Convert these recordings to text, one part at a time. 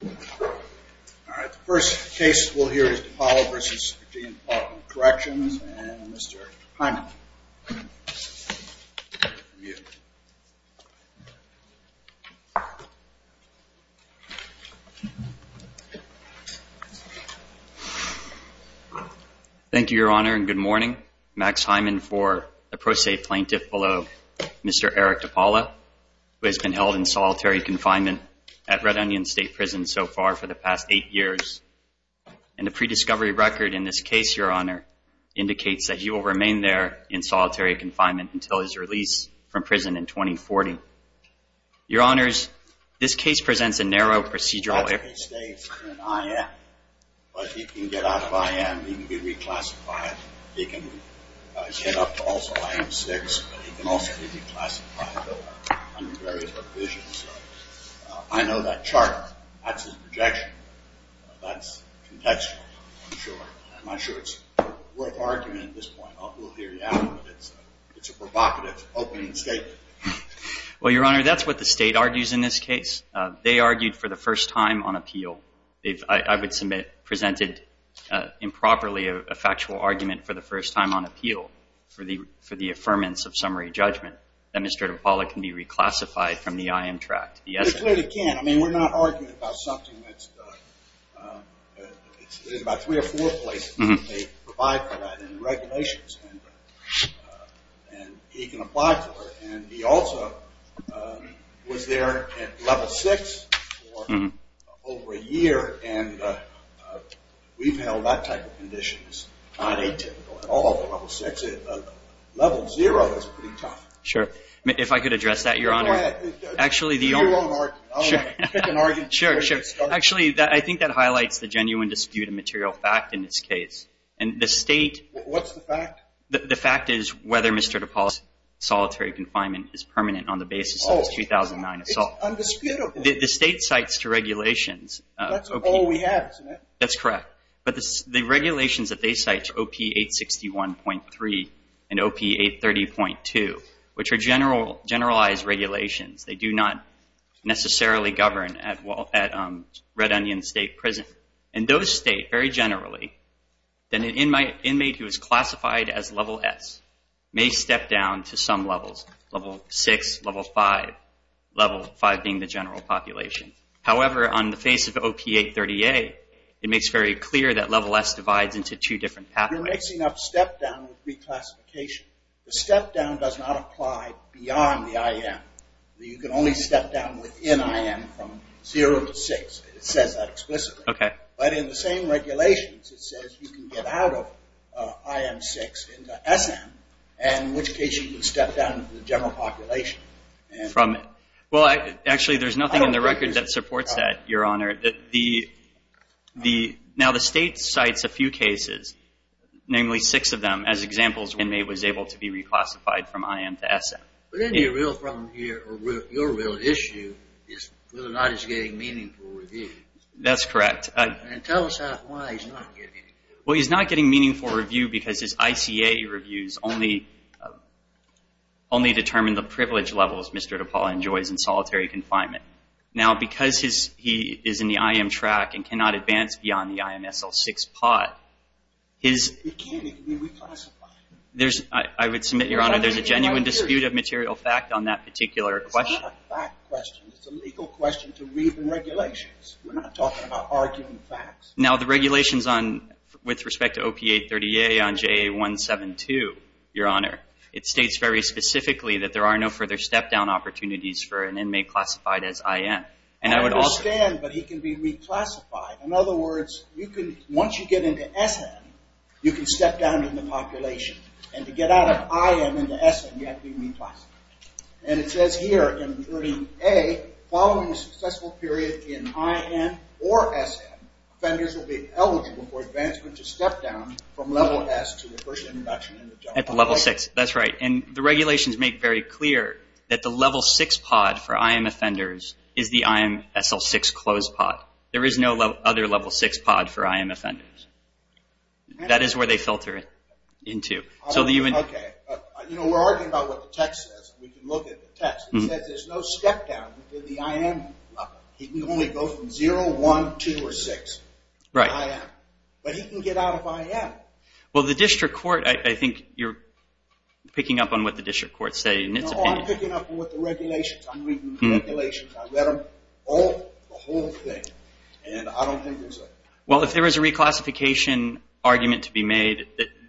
The first case we'll hear is DePaola v. Virginia Department of Corrections, and Mr. Hyman. Thank you, Your Honor, and good morning. Max Hyman for the pro se plaintiff below, Mr. Eric DePaola, who has been held in solitary confinement at Red Onion State Prison since so far for the past eight years. And the pre-discovery record in this case, Your Honor, indicates that he will remain there in solitary confinement until his release from prison in 2040. Your Honors, this case presents a narrow procedural error. I know that chart. That's a projection. That's contextual, I'm sure. I'm not sure it's worth arguing at this point. We'll hear you out. It's a provocative opening statement. Well, Your Honor, that's what the state argues in this case. They argued for the first time on appeal. I would submit presented improperly a factual argument for the first time on appeal for the It's about three or four places they provide for that in the regulations, and he can apply for it. And he also was there at level six for over a year, and we've held that type of condition. It's not atypical at all for level six. Level zero is pretty tough. If I could address that, Your Honor. Actually, I think that highlights the genuine dispute of material fact in this case. And the state… What's the fact? The fact is whether Mr. DePaul's solitary confinement is permanent on the basis of his 2009 assault. It's undisputable. The state cites two regulations. That's all we have, isn't it? That's correct. But the regulations that they cite are OP 861.3 and OP 830.2, which are generalized regulations. They do not necessarily govern at Red Onion State Prison. And those state very generally that an inmate who is classified as level S may step down to some levels, level six, level five, level five being the general population. However, on the face of OP 830.8, it makes very clear that level S divides into two different pathways. You're mixing up step down with reclassification. The step down does not apply beyond the IM. You can only step down within IM from zero to six. It says that explicitly. Okay. But in the same regulations, it says you can get out of IM six into SM, and in which case you can step down to the general population. Well, actually, there's nothing in the record that supports that, Your Honor. Now, the state cites a few cases, namely six of them, as examples when an inmate was able to be reclassified from IM to SM. But isn't your real issue is whether or not it's getting meaningful review? That's correct. And tell us why he's not getting it. Well, he's not getting meaningful review because his ICA reviews only determine the privilege levels Mr. DePaul enjoys in solitary confinement. Now, because he is in the IM track and cannot advance beyond the IM SL six pot, his — It can't even be reclassified. I would submit, Your Honor, there's a genuine dispute of material fact on that particular question. It's a legal question to read the regulations. We're not talking about arguing facts. Now, the regulations on — with respect to OP 838 on JA 172, Your Honor, it states very specifically that there are no further step-down opportunities for an inmate classified as IM. And I would also — I understand, but he can be reclassified. In other words, you can — once you get into SM, you can step down in the population. And to get out of IM into SM, you have to be reclassified. And it says here, in reading A, following a successful period in IM or SM, offenders will be eligible for advancement to step down from level S to the first introduction in the general population. At the level six. That's right. And the regulations make very clear that the level six pod for IM offenders is the IM SL six closed pod. There is no other level six pod for IM offenders. That is where they filter it into. Okay. You know, we're arguing about what the text says. We can look at the text. It says there's no step-down for the IM. He can only go from zero, one, two, or six. Right. But he can get out of IM. Well, the district court — I think you're picking up on what the district courts say in its opinion. No, I'm picking up on what the regulations — I'm reading the regulations. I read them all, the whole thing. And I don't think there's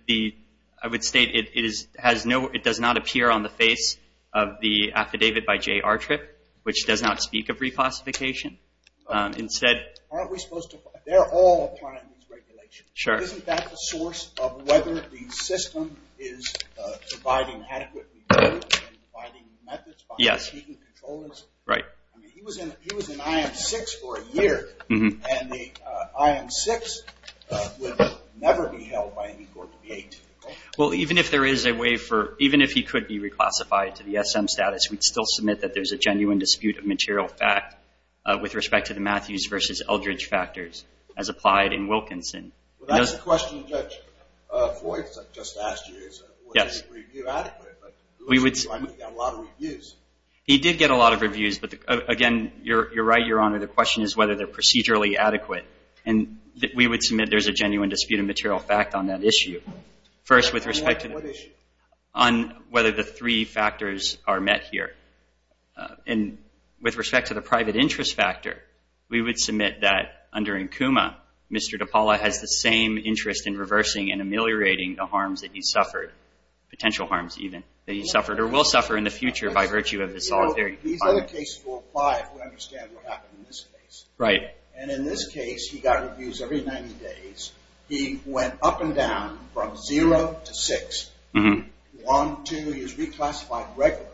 a — I would state it has no — it does not appear on the face of the affidavit by J.R. Tripp, which does not speak of reclassification. Instead — Aren't we supposed to — they're all a part of these regulations. Sure. Isn't that the source of whether the system is providing adequate — Yes. Right. I mean, he was in IM six for a year. Mm-hmm. And the IM six would never be held by any court to be atypical. Well, even if there is a way for — even if he could be reclassified to the SM status, we'd still submit that there's a genuine dispute of material fact with respect to the Matthews versus Eldridge factors, as applied in Wilkinson. Well, that's the question Judge Floyd just asked you is, was any review adequate? Yes. But he got a lot of reviews. He did get a lot of reviews. But, again, you're right, Your Honor. The question is whether they're procedurally adequate. And we would submit there's a genuine dispute of material fact on that issue. First, with respect to — On what issue? On whether the three factors are met here. And with respect to the private interest factor, we would submit that, under Nkuma, Mr. DePaula has the same interest in reversing and ameliorating the harms that he suffered, potential harms, even, that he suffered or will suffer in the future by virtue of the solitary — These other cases will apply if we understand what happened in this case. Right. And in this case, he got reviews every 90 days. He went up and down from zero to six. One, two, he was reclassified regularly,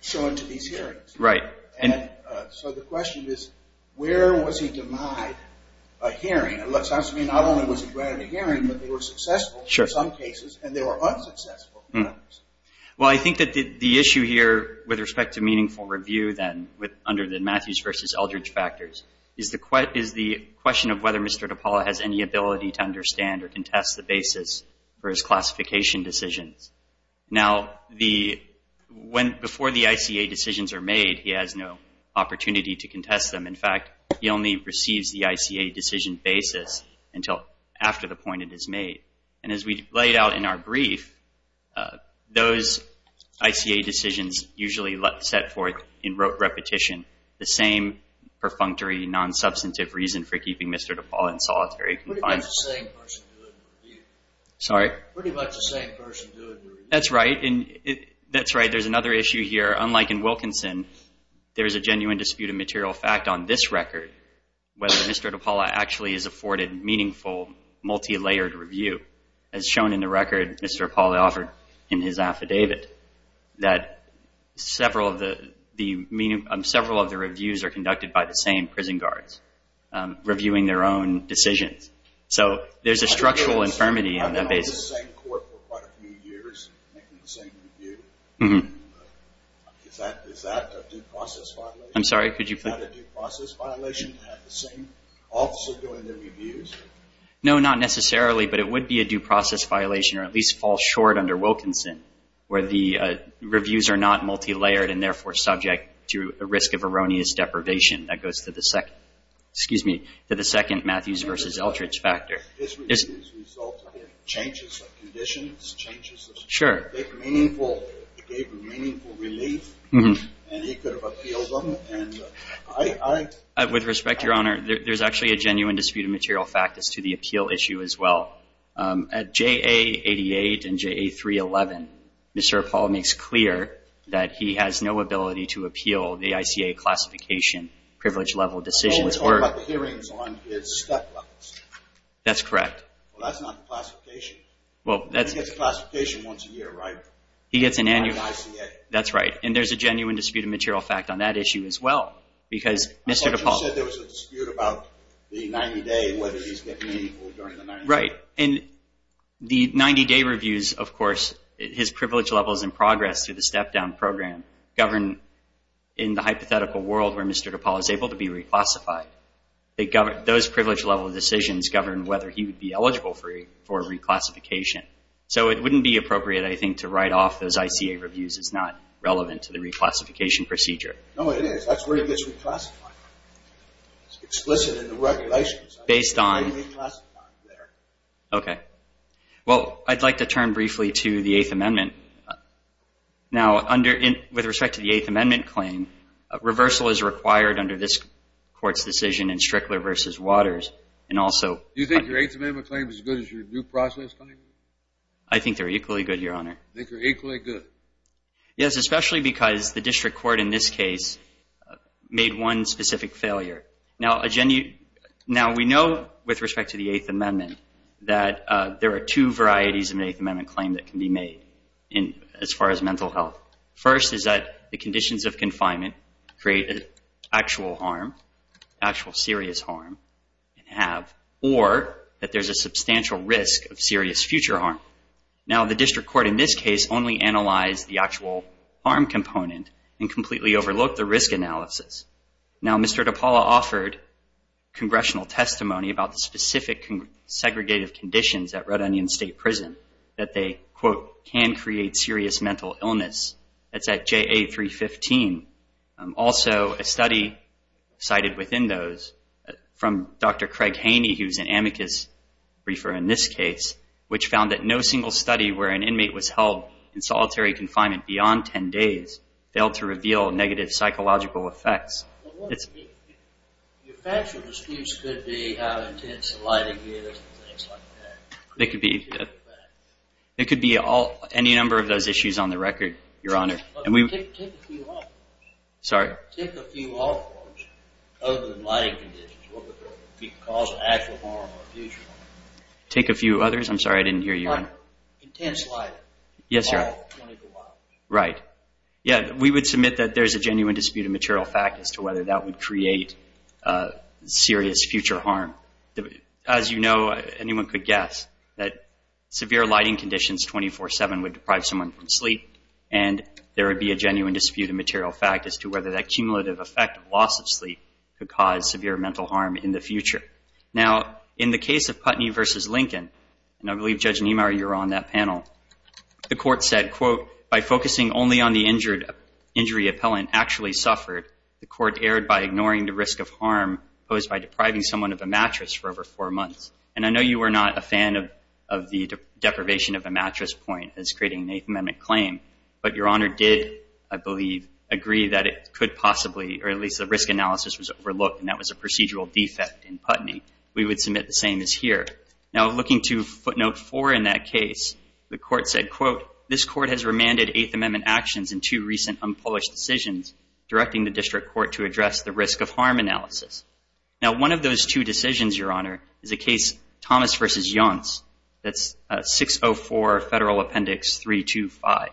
shown to these hearings. Right. And so the question is, where was he denied a hearing? It sounds to me not only was he granted a hearing, but they were successful in some cases, and they were unsuccessful in others. Well, I think that the issue here, with respect to meaningful review, then, under the Matthews versus Eldridge factors, is the question of whether Mr. DePaula has any ability to understand or contest the basis for his classification decisions. Now, before the ICA decisions are made, he has no opportunity to contest them. In fact, he only receives the ICA decision basis until after the point it is made. And as we laid out in our brief, those ICA decisions usually set forth in repetition the same perfunctory, non-substantive reason for keeping Mr. DePaula in solitary. Pretty much the same person doing the review. Sorry? Pretty much the same person doing the review. That's right. That's right. There's another issue here. Unlike in Wilkinson, there is a genuine dispute of material fact on this record, whether Mr. DePaula actually is afforded meaningful, multi-layered review. As shown in the record Mr. DePaula offered in his affidavit, that several of the reviews are conducted by the same prison guards, reviewing their own decisions. So there's a structural infirmity on that basis. I've been in the same court for quite a few years, making the same review. Is that a due process violation? I'm sorry, could you repeat? Is that a due process violation to have the same officer doing the reviews? No, not necessarily, but it would be a due process violation or at least fall short under Wilkinson, where the reviews are not multi-layered and therefore subject to a risk of erroneous deprivation. That goes to the second Matthews versus Eltridge factor. His reviews result in changes of conditions, changes of- Sure. It gave me meaningful relief, and he could have appealed them, and I- With respect, Your Honor, there's actually a genuine dispute of material fact as to the appeal issue as well. At JA88 and JA311, Mr. DePaula makes clear that he has no ability to appeal the ICA classification privilege level decisions or- Or the hearings on his step levels. That's correct. Well, that's not the classification. Well, that's- He gets a classification once a year, right? He gets an annual- At ICA. That's right, and there's a genuine dispute of material fact on that issue as well because Mr. DePaula- I thought you said there was a dispute about the 90-day, whether he's getting meaningful during the 90-day. Right, and the 90-day reviews, of course, his privilege levels in progress through the step-down program govern in the hypothetical world where Mr. DePaula is able to be reclassified. Those privilege level decisions govern whether he would be eligible for reclassification. So it wouldn't be appropriate, I think, to write off those ICA reviews as not relevant to the reclassification procedure. No, it is. That's where he gets reclassified. It's explicit in the regulations. Based on- I reclassified there. Okay. Well, I'd like to turn briefly to the Eighth Amendment. Now, with respect to the Eighth Amendment claim, reversal is required under this Court's decision in Strickler v. Waters, and also- Do you think your Eighth Amendment claim is as good as your due process claim? I think they're equally good, Your Honor. You think they're equally good? Yes, especially because the district court in this case made one specific failure. Now, we know with respect to the Eighth Amendment that there are two varieties of an Eighth Amendment claim that can be made as far as mental health. First is that the conditions of confinement create actual harm, or that there's a substantial risk of serious future harm. Now, the district court in this case only analyzed the actual harm component and completely overlooked the risk analysis. Now, Mr. DePaula offered congressional testimony about the specific segregative conditions at Red Onion State Prison that they, quote, can create serious mental illness. That's at JA 315. Also, a study cited within those from Dr. Craig Haney, who's an amicus briefer in this case, which found that no single study where an inmate was held in solitary confinement beyond 10 days failed to reveal negative psychological effects. Your factual disputes could be how intense the lighting is and things like that. It could be any number of those issues on the record, Your Honor. Take a few of them. Sorry? Take a few of them, other than lighting conditions, what would cause actual harm or future harm. Take a few others? I'm sorry, I didn't hear you, Your Honor. Like intense lighting. Yes, Your Honor. All 24 hours. Right. Yeah, we would submit that there's a genuine dispute of material fact as to whether that would create serious future harm. As you know, anyone could guess that severe lighting conditions 24-7 would deprive someone from sleep. And there would be a genuine dispute of material fact as to whether that cumulative effect of loss of sleep could cause severe mental harm in the future. Now, in the case of Putney v. Lincoln, and I believe, Judge Niemeyer, you were on that panel, the court said, quote, by focusing only on the injury appellant actually suffered, the court erred by ignoring the risk of harm posed by depriving someone of a mattress for over four months. And I know you were not a fan of the deprivation of a mattress point as creating an Eighth Amendment claim, but Your Honor did, I believe, agree that it could possibly, or at least the risk analysis was overlooked, and that was a procedural defect in Putney. We would submit the same as here. Now, looking to footnote four in that case, the court said, quote, this court has remanded Eighth Amendment actions in two recent unpolished decisions directing the district court to address the risk of harm analysis. Now, one of those two decisions, Your Honor, is a case, Thomas v. Younce, that's 604 Federal Appendix 325.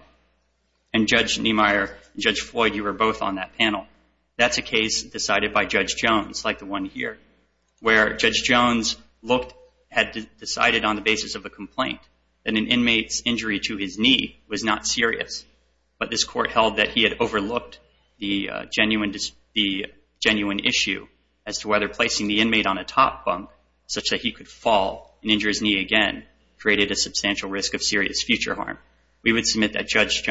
And, Judge Niemeyer and Judge Floyd, you were both on that panel. That's a case decided by Judge Jones, like the one here, where Judge Jones had decided on the basis of a complaint that an inmate's injury to his knee was not serious, but this court held that he had overlooked the genuine issue as to whether placing the inmate on a top bunk, such that he could fall and injure his knee again, created a substantial risk of serious future harm. We would submit that Judge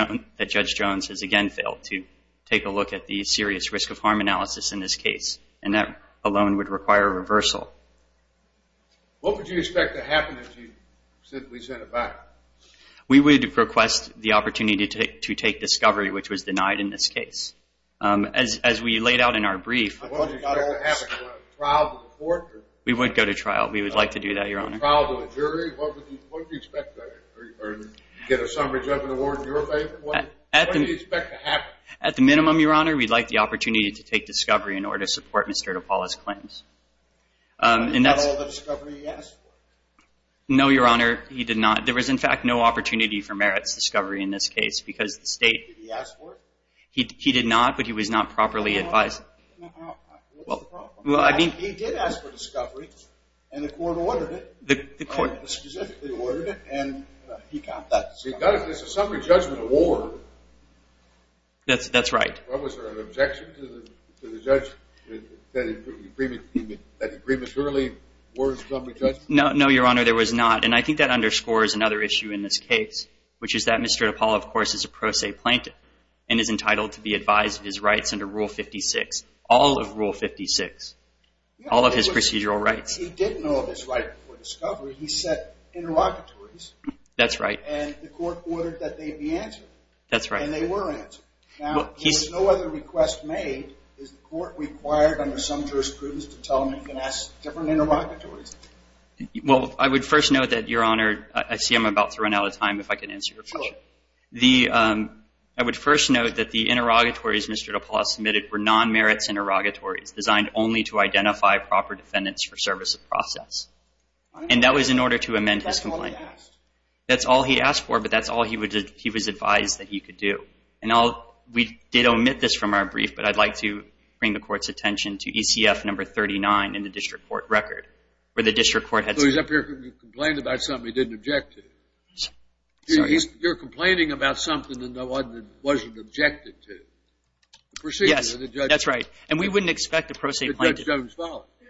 Jones has again failed to take a look at the serious risk of harm analysis in this case, and that alone would require a reversal. What would you expect to happen if we sent it back? We would request the opportunity to take discovery, which was denied in this case. As we laid out in our brief... We would go to trial. We would like to do that, Your Honor. At the minimum, Your Honor, we'd like the opportunity to take discovery in order to support Mr. DePaula's claims. No, Your Honor, he did not. There was, in fact, no opportunity for merits discovery in this case because the state... He did ask for discovery, and the court ordered it. The court specifically ordered it, and he got that discovery. That's right. No, Your Honor, there was not, and I think that underscores another issue in this case, which is that Mr. DePaula, of course, is a pro se plaintiff and is entitled to be advised of his rights under Rule 56, all of Rule 56, all of his procedural rights. That's right. That's right. Well, I would first note that, Your Honor... I see I'm about to run out of time, if I can answer your question. I would first note that the interrogatories Mr. DePaula submitted were non-merits interrogatories designed only to identify proper defendants for service of process. And that was in order to amend his complaint. That's all he asked. That's all he asked for, but that's all he was advised that he could do. And we did omit this from our brief, but I'd like to bring the court's attention to ECF number 39 in the district court record, where the district court had... So he's up here complaining about something he didn't object to. You're complaining about something that wasn't objected to. Yes, that's right. And we wouldn't expect a pro se plaintiff...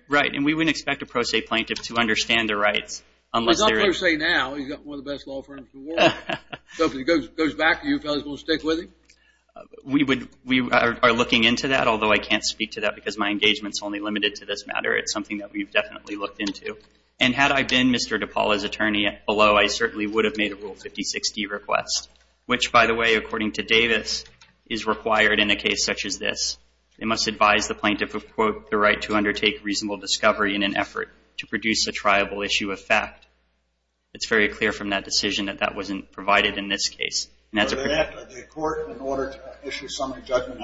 Right, and we wouldn't expect a pro se plaintiff to understand their rights. He's on pro se now. He's got one of the best law firms in the world. So if he goes back to you, you fellas will stick with him? We are looking into that, although I can't speak to that because my engagement's only limited to this matter. It's something that we've definitely looked into. And had I been Mr. DePaula's attorney below, I certainly would have made a Rule 56D request, which, by the way, according to Davis, is required in a case such as this. They must advise the plaintiff of, quote, the right to undertake reasonable discovery in an effort to produce a triable issue of fact. It's very clear from that decision that that wasn't provided in this case. And that's a... The court, in order to issue a summary judgment,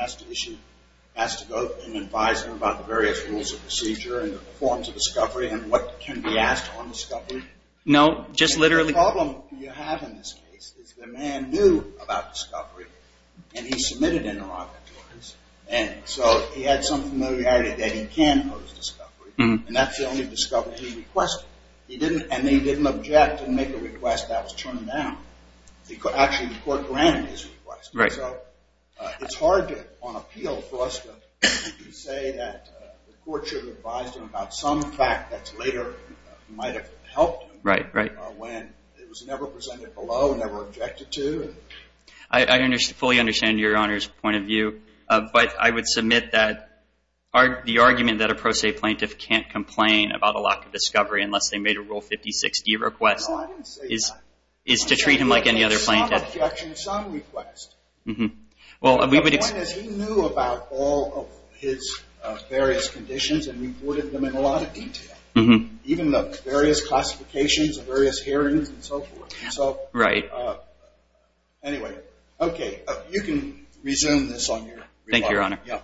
has to go and advise them about the various rules of procedure and the forms of discovery and what can be asked on discovery? No, just literally... The problem you have in this case is the man knew about discovery and he submitted an interrogatory. And so he had some familiarity that he can pose discovery. And that's the only discovery he requested. And he didn't object and make a request that was turned down. Actually, the court granted his request. Right. So it's hard on appeal for us to say that the court should have advised him about some fact that later might have helped him... Right, right. ...when it was never presented below, never objected to. I fully understand Your Honor's point of view. But I would submit that the argument that a pro se plaintiff can't complain about a lack of discovery unless they made a Rule 56D request... No, I didn't say that. ...is to treat him like any other plaintiff. Some objection, some request. The point is he knew about all of his various conditions and reported them in a lot of detail. Even the various classifications of various hearings and so forth. Right. Anyway, okay. You can resume this on your rebuttal. Thank you, Your Honor. Yeah.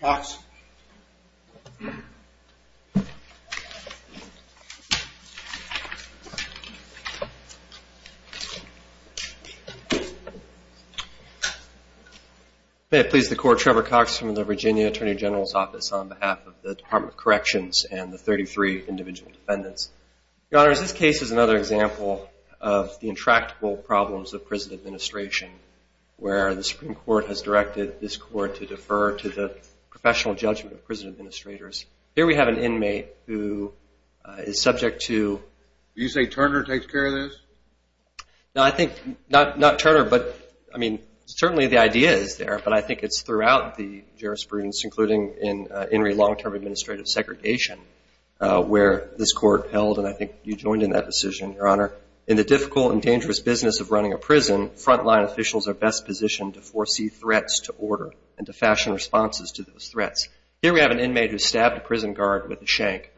Cox. May it please the Court, Trevor Cox from the Virginia Attorney General's Office on behalf of the Department of Corrections and the 33 individual defendants. Your Honors, this case is another example of the intractable problems of prison administration where the Supreme Court has directed this Court to defer to the professional defense attorney and to the professional defense attorney Here we have an inmate who is subject to... Did you say Turner takes care of this? No, I think not Turner, but certainly the idea is there, but I think it's throughout the jurisprudence, including in long-term administrative segregation, where this Court held, and I think you joined in that decision, Your Honor, in the difficult and dangerous business of running a prison, frontline officials are best positioned to foresee threats to order and to fashion responses to those threats. Here we have an inmate who stabbed a prison guard with a shank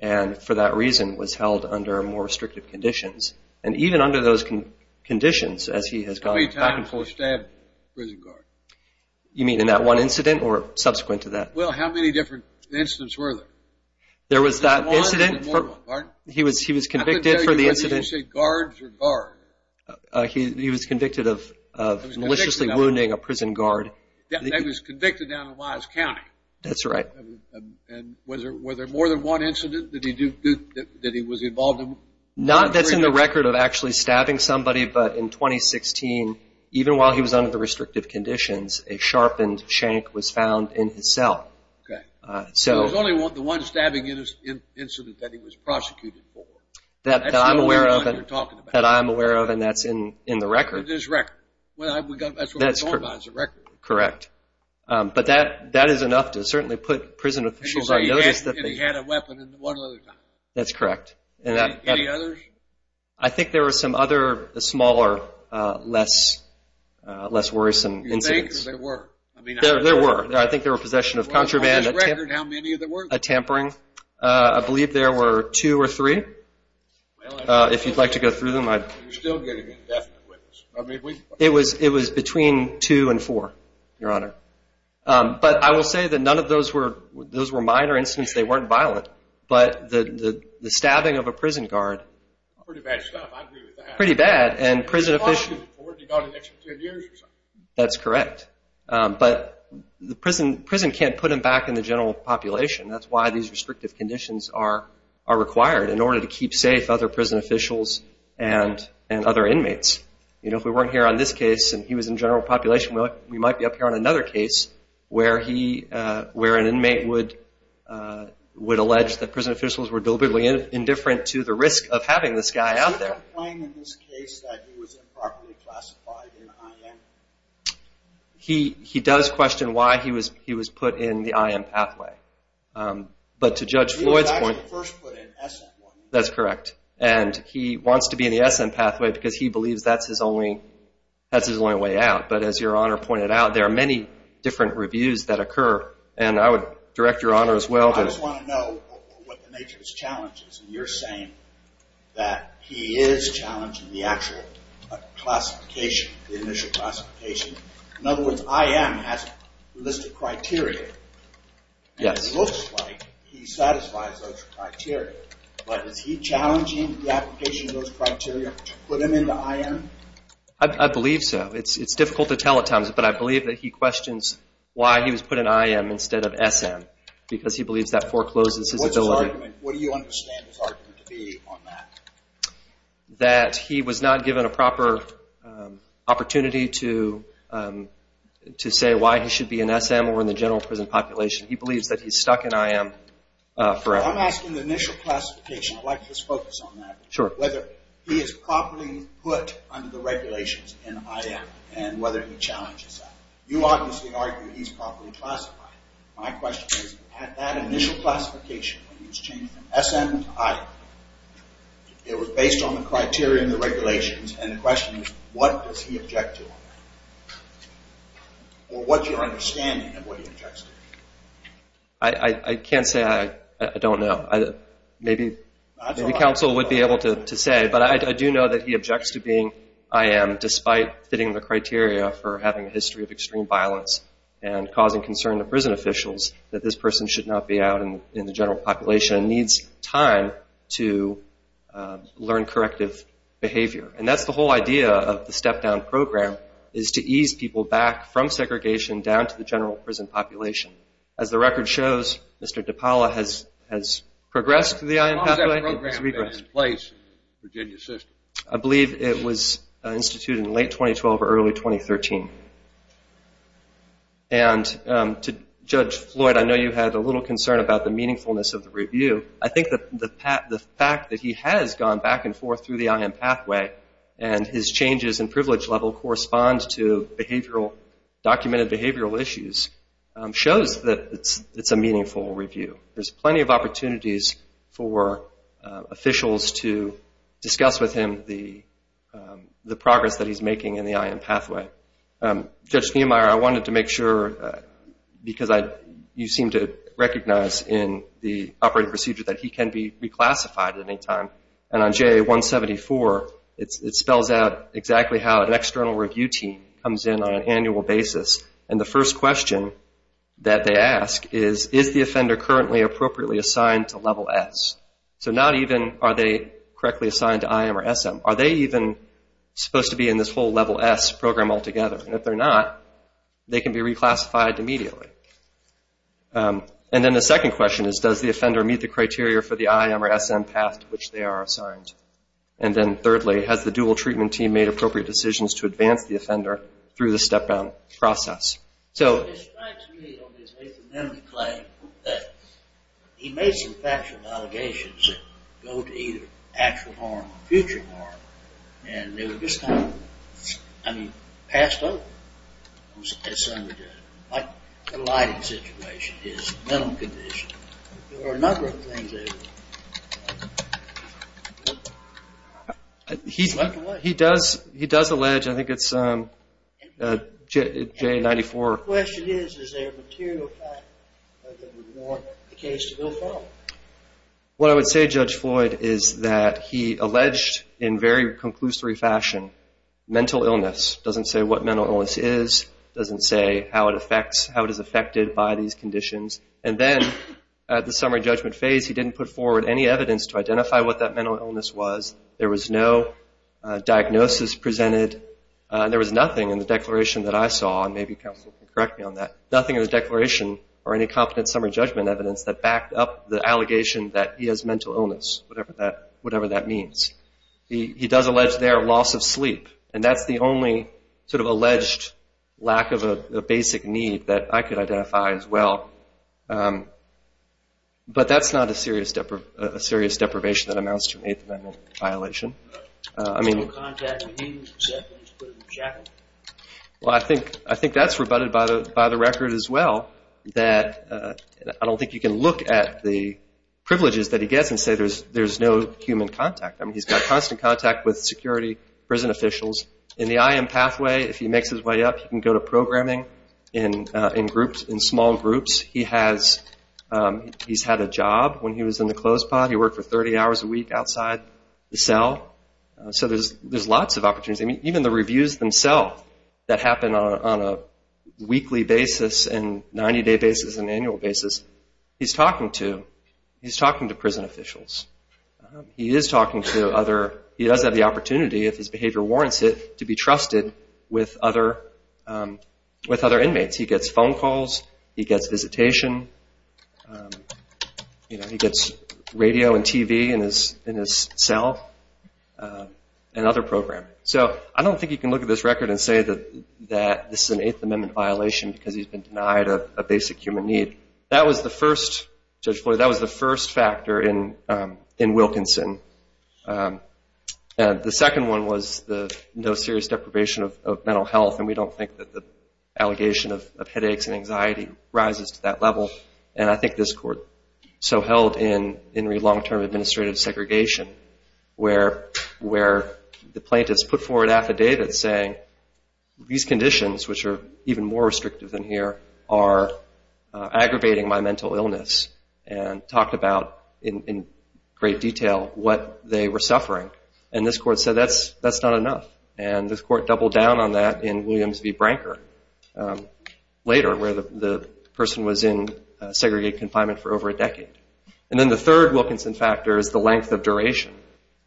and for that reason was held under more restrictive conditions, and even under those conditions, as he has gone back and forth... How many times has he stabbed a prison guard? You mean in that one incident or subsequent to that? Well, how many different incidents were there? There was that incident... More than one, pardon? He was convicted for the incident... I couldn't tell you whether you said guards or guard. He was convicted of maliciously wounding a prison guard and he was convicted down in Wise County. That's right. And were there more than one incident that he was involved in? Not that's in the record of actually stabbing somebody, but in 2016, even while he was under the restrictive conditions, a sharpened shank was found in his cell. Okay. So it was only the one stabbing incident that he was prosecuted for. That I'm aware of and that's in the record. It is record. That's what we're talking about, it's a record. Correct. But that is enough to certainly put prison officials on notice that they... And you say he had a weapon and one other time. That's correct. Any others? I think there were some other smaller, less worrisome incidents. You think or there were? There were. I think there were possession of contraband, a tampering. On this record, how many were there? I believe there were two or three. If you'd like to go through them, I'd... You're still getting indefinite witness. It was between two and four, Your Honor. But I will say that none of those were minor incidents. They weren't violent. But the stabbing of a prison guard... Pretty bad stuff. I agree with that. Pretty bad. And prison officials... He was prosecuted for it. He got an extra 10 years or something. That's correct. But the prison can't put him back in the general population. That's why these restrictive conditions are required, in order to keep safe other prison officials and other inmates. If we weren't here on this case and he was in general population, we might be up here on another case where an inmate would allege that prison officials were deliberately indifferent to the risk of having this guy out there. Do you complain in this case that he was improperly classified in IM? He does question why he was put in the IM pathway. But to Judge Floyd's point... That's correct. And he wants to be in the SM pathway because he believes that's his only way out. But as Your Honor pointed out, there are many different reviews that occur. And I would direct Your Honor as well to... I just want to know what the nature of his challenge is. You're saying that he is challenging the actual classification, the initial classification. In other words, IM has a list of criteria. Yes. It looks like he satisfies those criteria. But is he challenging the application of those criteria to put him in the IM? I believe so. It's difficult to tell at times, but I believe that he questions why he was put in IM instead of SM, because he believes that forecloses his ability. What's his argument? What do you understand his argument to be on that? That he was not given a proper opportunity to say why he should be in SM or in the general prison population. He believes that he's stuck in IM forever. I'm asking the initial classification. I'd like to just focus on that. Sure. Whether he is properly put under the regulations in IM and whether he challenges that. You obviously argue he's properly classified. My question is, had that initial classification, when he was changed from SM to IM, it was based on the criteria and the regulations, and the question is, what does he object to on that? Or what's your understanding of what he objects to? I can't say I don't know. Maybe counsel would be able to say, but I do know that he objects to being IM, despite fitting the criteria for having a history of extreme violence and causing concern to prison officials that this person should not be out in the general population and needs time to learn corrective behavior. And that's the whole idea of the step-down program, is to ease people back from segregation down to the general prison population. As the record shows, Mr. DiPaola has progressed through the IM pathway. How long has that program been in place in the Virginia system? I believe it was instituted in late 2012 or early 2013. And to Judge Floyd, I know you had a little concern about the meaningfulness of the review. I think the fact that he has gone back and forth through the IM pathway and his changes in privilege level correspond to documented behavioral issues shows that it's a meaningful review. There's plenty of opportunities for officials to discuss with him the progress that he's making in the IM pathway. Judge Niemeyer, I wanted to make sure, because you seem to recognize in the operating procedure that he can be reclassified at any time. And on JA-174, it spells out exactly how an external review team comes in on an annual basis. And the first question that they ask is, is the offender currently appropriately assigned to level S? So not even are they correctly assigned to IM or SM. Are they even supposed to be in this whole level S program altogether? And if they're not, they can be reclassified immediately. And then the second question is, does the offender meet the criteria for the IM or SM path to which they are assigned? And then thirdly, has the dual treatment team made appropriate decisions to advance the offender through the step-down process? So it strikes me on his maintenance claim that he made some factual allegations that go to either actual harm or future harm. And they were just kind of, I mean, passed over. Like the lighting situation, his mental condition. There were a number of things that he left away. He does allege, I think it's JA-94. The question is, is there a material fact that would warrant the case to go forward? What I would say, Judge Floyd, is that he alleged in very conclusory fashion mental illness. Doesn't say what mental illness is. Doesn't say how it is affected by these conditions. And then at the summary judgment phase, he didn't put forward any evidence to identify what that mental illness was. There was no diagnosis presented. There was nothing in the declaration that I saw, and maybe counsel can correct me on that, nothing in the declaration or any competent summary judgment evidence that backed up the allegation that he has mental illness, whatever that means. He does allege there loss of sleep. And that's the only sort of alleged lack of a basic need that I could identify as well. But that's not a serious deprivation that amounts to an Eighth Amendment violation. I mean, I think that's rebutted by the record as well, that I don't think you can look at the privileges that he gets and say there's no human contact. I mean, he's got constant contact with security, prison officials. In the IM pathway, if he makes his way up, he can go to programming in small groups. He's had a job when he was in the closed pod. He worked for 30 hours a week outside the cell. So there's lots of opportunities. I mean, even the reviews themselves that happen on a weekly basis and 90-day basis and annual basis, he's talking to prison officials. He is talking to other – he does have the opportunity, if his behavior warrants it, to be trusted with other inmates. He gets phone calls. He gets visitation. He gets radio and TV in his cell and other programming. So I don't think you can look at this record and say that this is an Eighth Amendment violation because he's been denied a basic human need. I mean, that was the first – Judge Floyd, that was the first factor in Wilkinson. The second one was the no serious deprivation of mental health, and we don't think that the allegation of headaches and anxiety rises to that level. And I think this court so held in long-term administrative segregation where the plaintiffs put forward affidavits saying these conditions, which are even more restrictive than here, are aggravating my mental illness and talked about in great detail what they were suffering. And this court said that's not enough. And this court doubled down on that in Williams v. Branker later where the person was in segregated confinement for over a decade. And then the third Wilkinson factor is the length of duration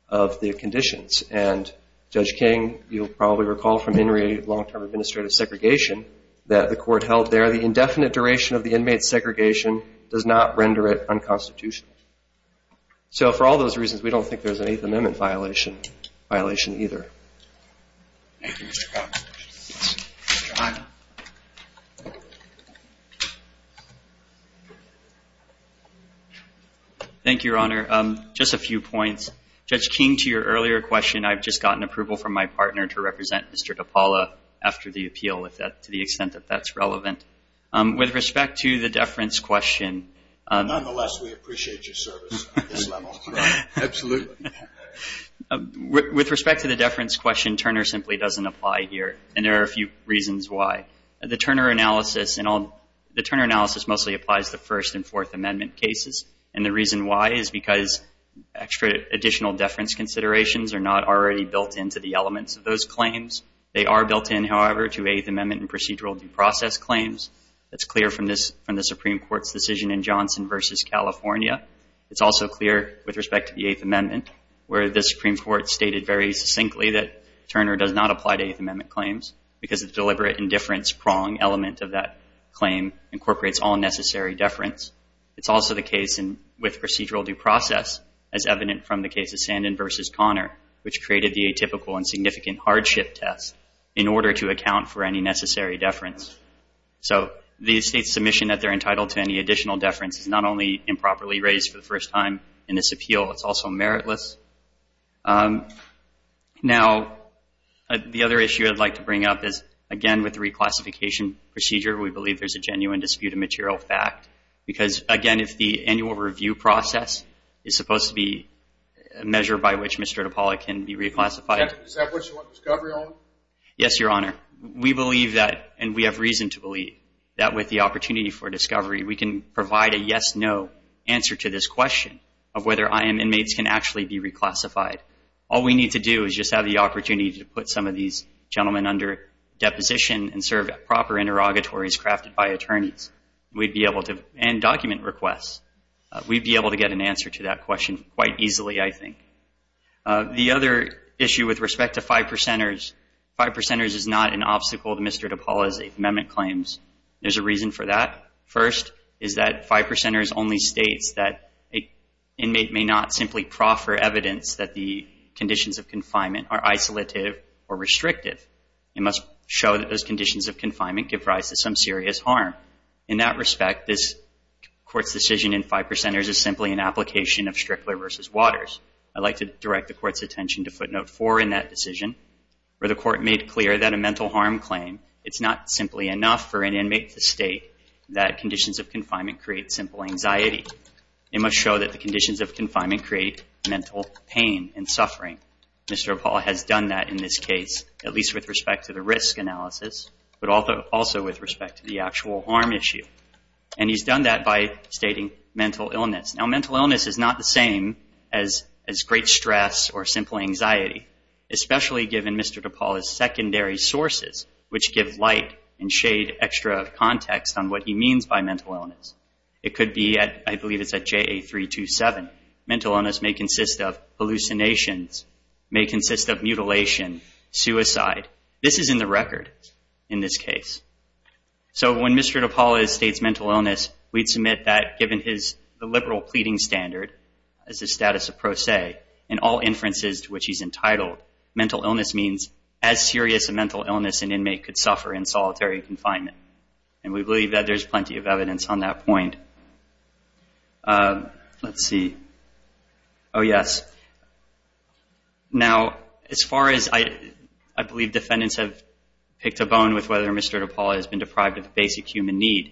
of the conditions. And Judge King, you'll probably recall from In re, long-term administrative segregation, that the court held there the indefinite duration of the inmate's segregation does not render it unconstitutional. So for all those reasons, we don't think there's an Eighth Amendment violation either. Thank you, Mr. Cox. John. Thank you, Your Honor. Just a few points. Judge King, to your earlier question, I've just gotten approval from my partner to represent Mr. DePaula after the appeal to the extent that that's relevant. With respect to the deference question. Nonetheless, we appreciate your service on this level. Absolutely. With respect to the deference question, Turner simply doesn't apply here. And there are a few reasons why. The Turner analysis mostly applies to First and Fourth Amendment cases. And the reason why is because extra additional deference considerations are not already built into the elements of those claims. They are built in, however, to Eighth Amendment and procedural due process claims. That's clear from the Supreme Court's decision in Johnson v. California. It's also clear with respect to the Eighth Amendment, where the Supreme Court stated very succinctly that Turner does not apply to Eighth Amendment claims because the deliberate indifference prong element of that claim incorporates all necessary deference. It's also the case with procedural due process, as evident from the case of Sandin v. Conner, which created the atypical and significant hardship test in order to account for any necessary deference. So the State's submission that they're entitled to any additional deference is not only improperly raised for the first time in this appeal, it's also meritless. Now, the other issue I'd like to bring up is, again, with the reclassification procedure, we believe there's a genuine dispute of material fact. Because, again, if the annual review process is supposed to be a measure by which Mr. DePaula can be reclassified... Is that what you want discovery on? Yes, Your Honor. We believe that, and we have reason to believe, that with the opportunity for discovery, we can provide a yes-no answer to this question of whether I.M. inmates can actually be reclassified. All we need to do is just have the opportunity to put some of these gentlemen under deposition and serve proper interrogatories crafted by attorneys, and document requests. We'd be able to get an answer to that question quite easily, I think. The other issue with respect to 5%ers, 5%ers is not an obstacle to Mr. DePaula's Eighth Amendment claims. There's a reason for that. First is that 5%ers only states that an inmate may not simply proffer evidence that the conditions of confinement are isolative or restrictive. It must show that those conditions of confinement give rise to some serious harm. In that respect, this Court's decision in 5%ers is simply an application of Strickler v. Waters. I'd like to direct the Court's attention to footnote 4 in that decision, where the Court made clear that a mental harm claim, it's not simply enough for an inmate to state that conditions of confinement create simple anxiety. It must show that the conditions of confinement create mental pain and suffering. Mr. DePaula has done that in this case, at least with respect to the risk analysis, but also with respect to the actual harm issue. And he's done that by stating mental illness. Now, mental illness is not the same as great stress or simple anxiety, especially given Mr. DePaula's secondary sources, which give light and shade extra context on what he means by mental illness. It could be, I believe it's at JA 327, mental illness may consist of hallucinations, may consist of mutilation, suicide. This is in the record in this case. So when Mr. DePaula states mental illness, we'd submit that given the liberal pleading standard, as a status of pro se, and all inferences to which he's entitled, mental illness means as serious a mental illness an inmate could suffer in solitary confinement. And we believe that there's plenty of evidence on that point. Let's see. Oh, yes. Now, as far as... I believe defendants have picked a bone with whether Mr. DePaula has been deprived of basic human need.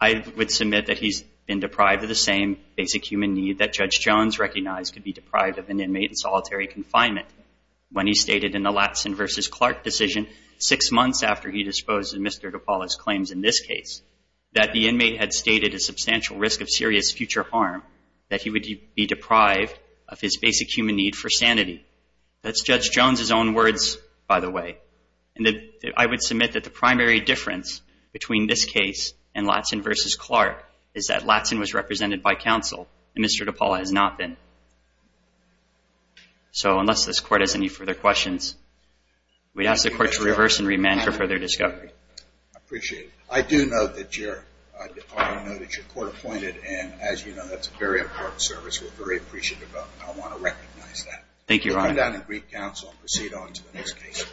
I would submit that he's been deprived of the same basic human need that Judge Jones recognized could be deprived of an inmate in solitary confinement when he stated in the Latson v. Clark decision six months after he disposed of Mr. DePaula's claims in this case that the inmate had stated a substantial risk of serious future harm that he would be deprived of his basic human need for sanity. That's Judge Jones's own words, by the way. And I would submit that the primary difference between this case and Latson v. Clark is that Latson was represented by counsel and Mr. DePaula has not been. So unless this Court has any further questions, we ask the Court to reverse and remand for further discovery. I appreciate it. I do know that you're court-appointed, and as you know, that's a very important service. We're very appreciative of it. I want to recognize that. Thank you, Your Honor. We'll come down and brief counsel and proceed on to the next case.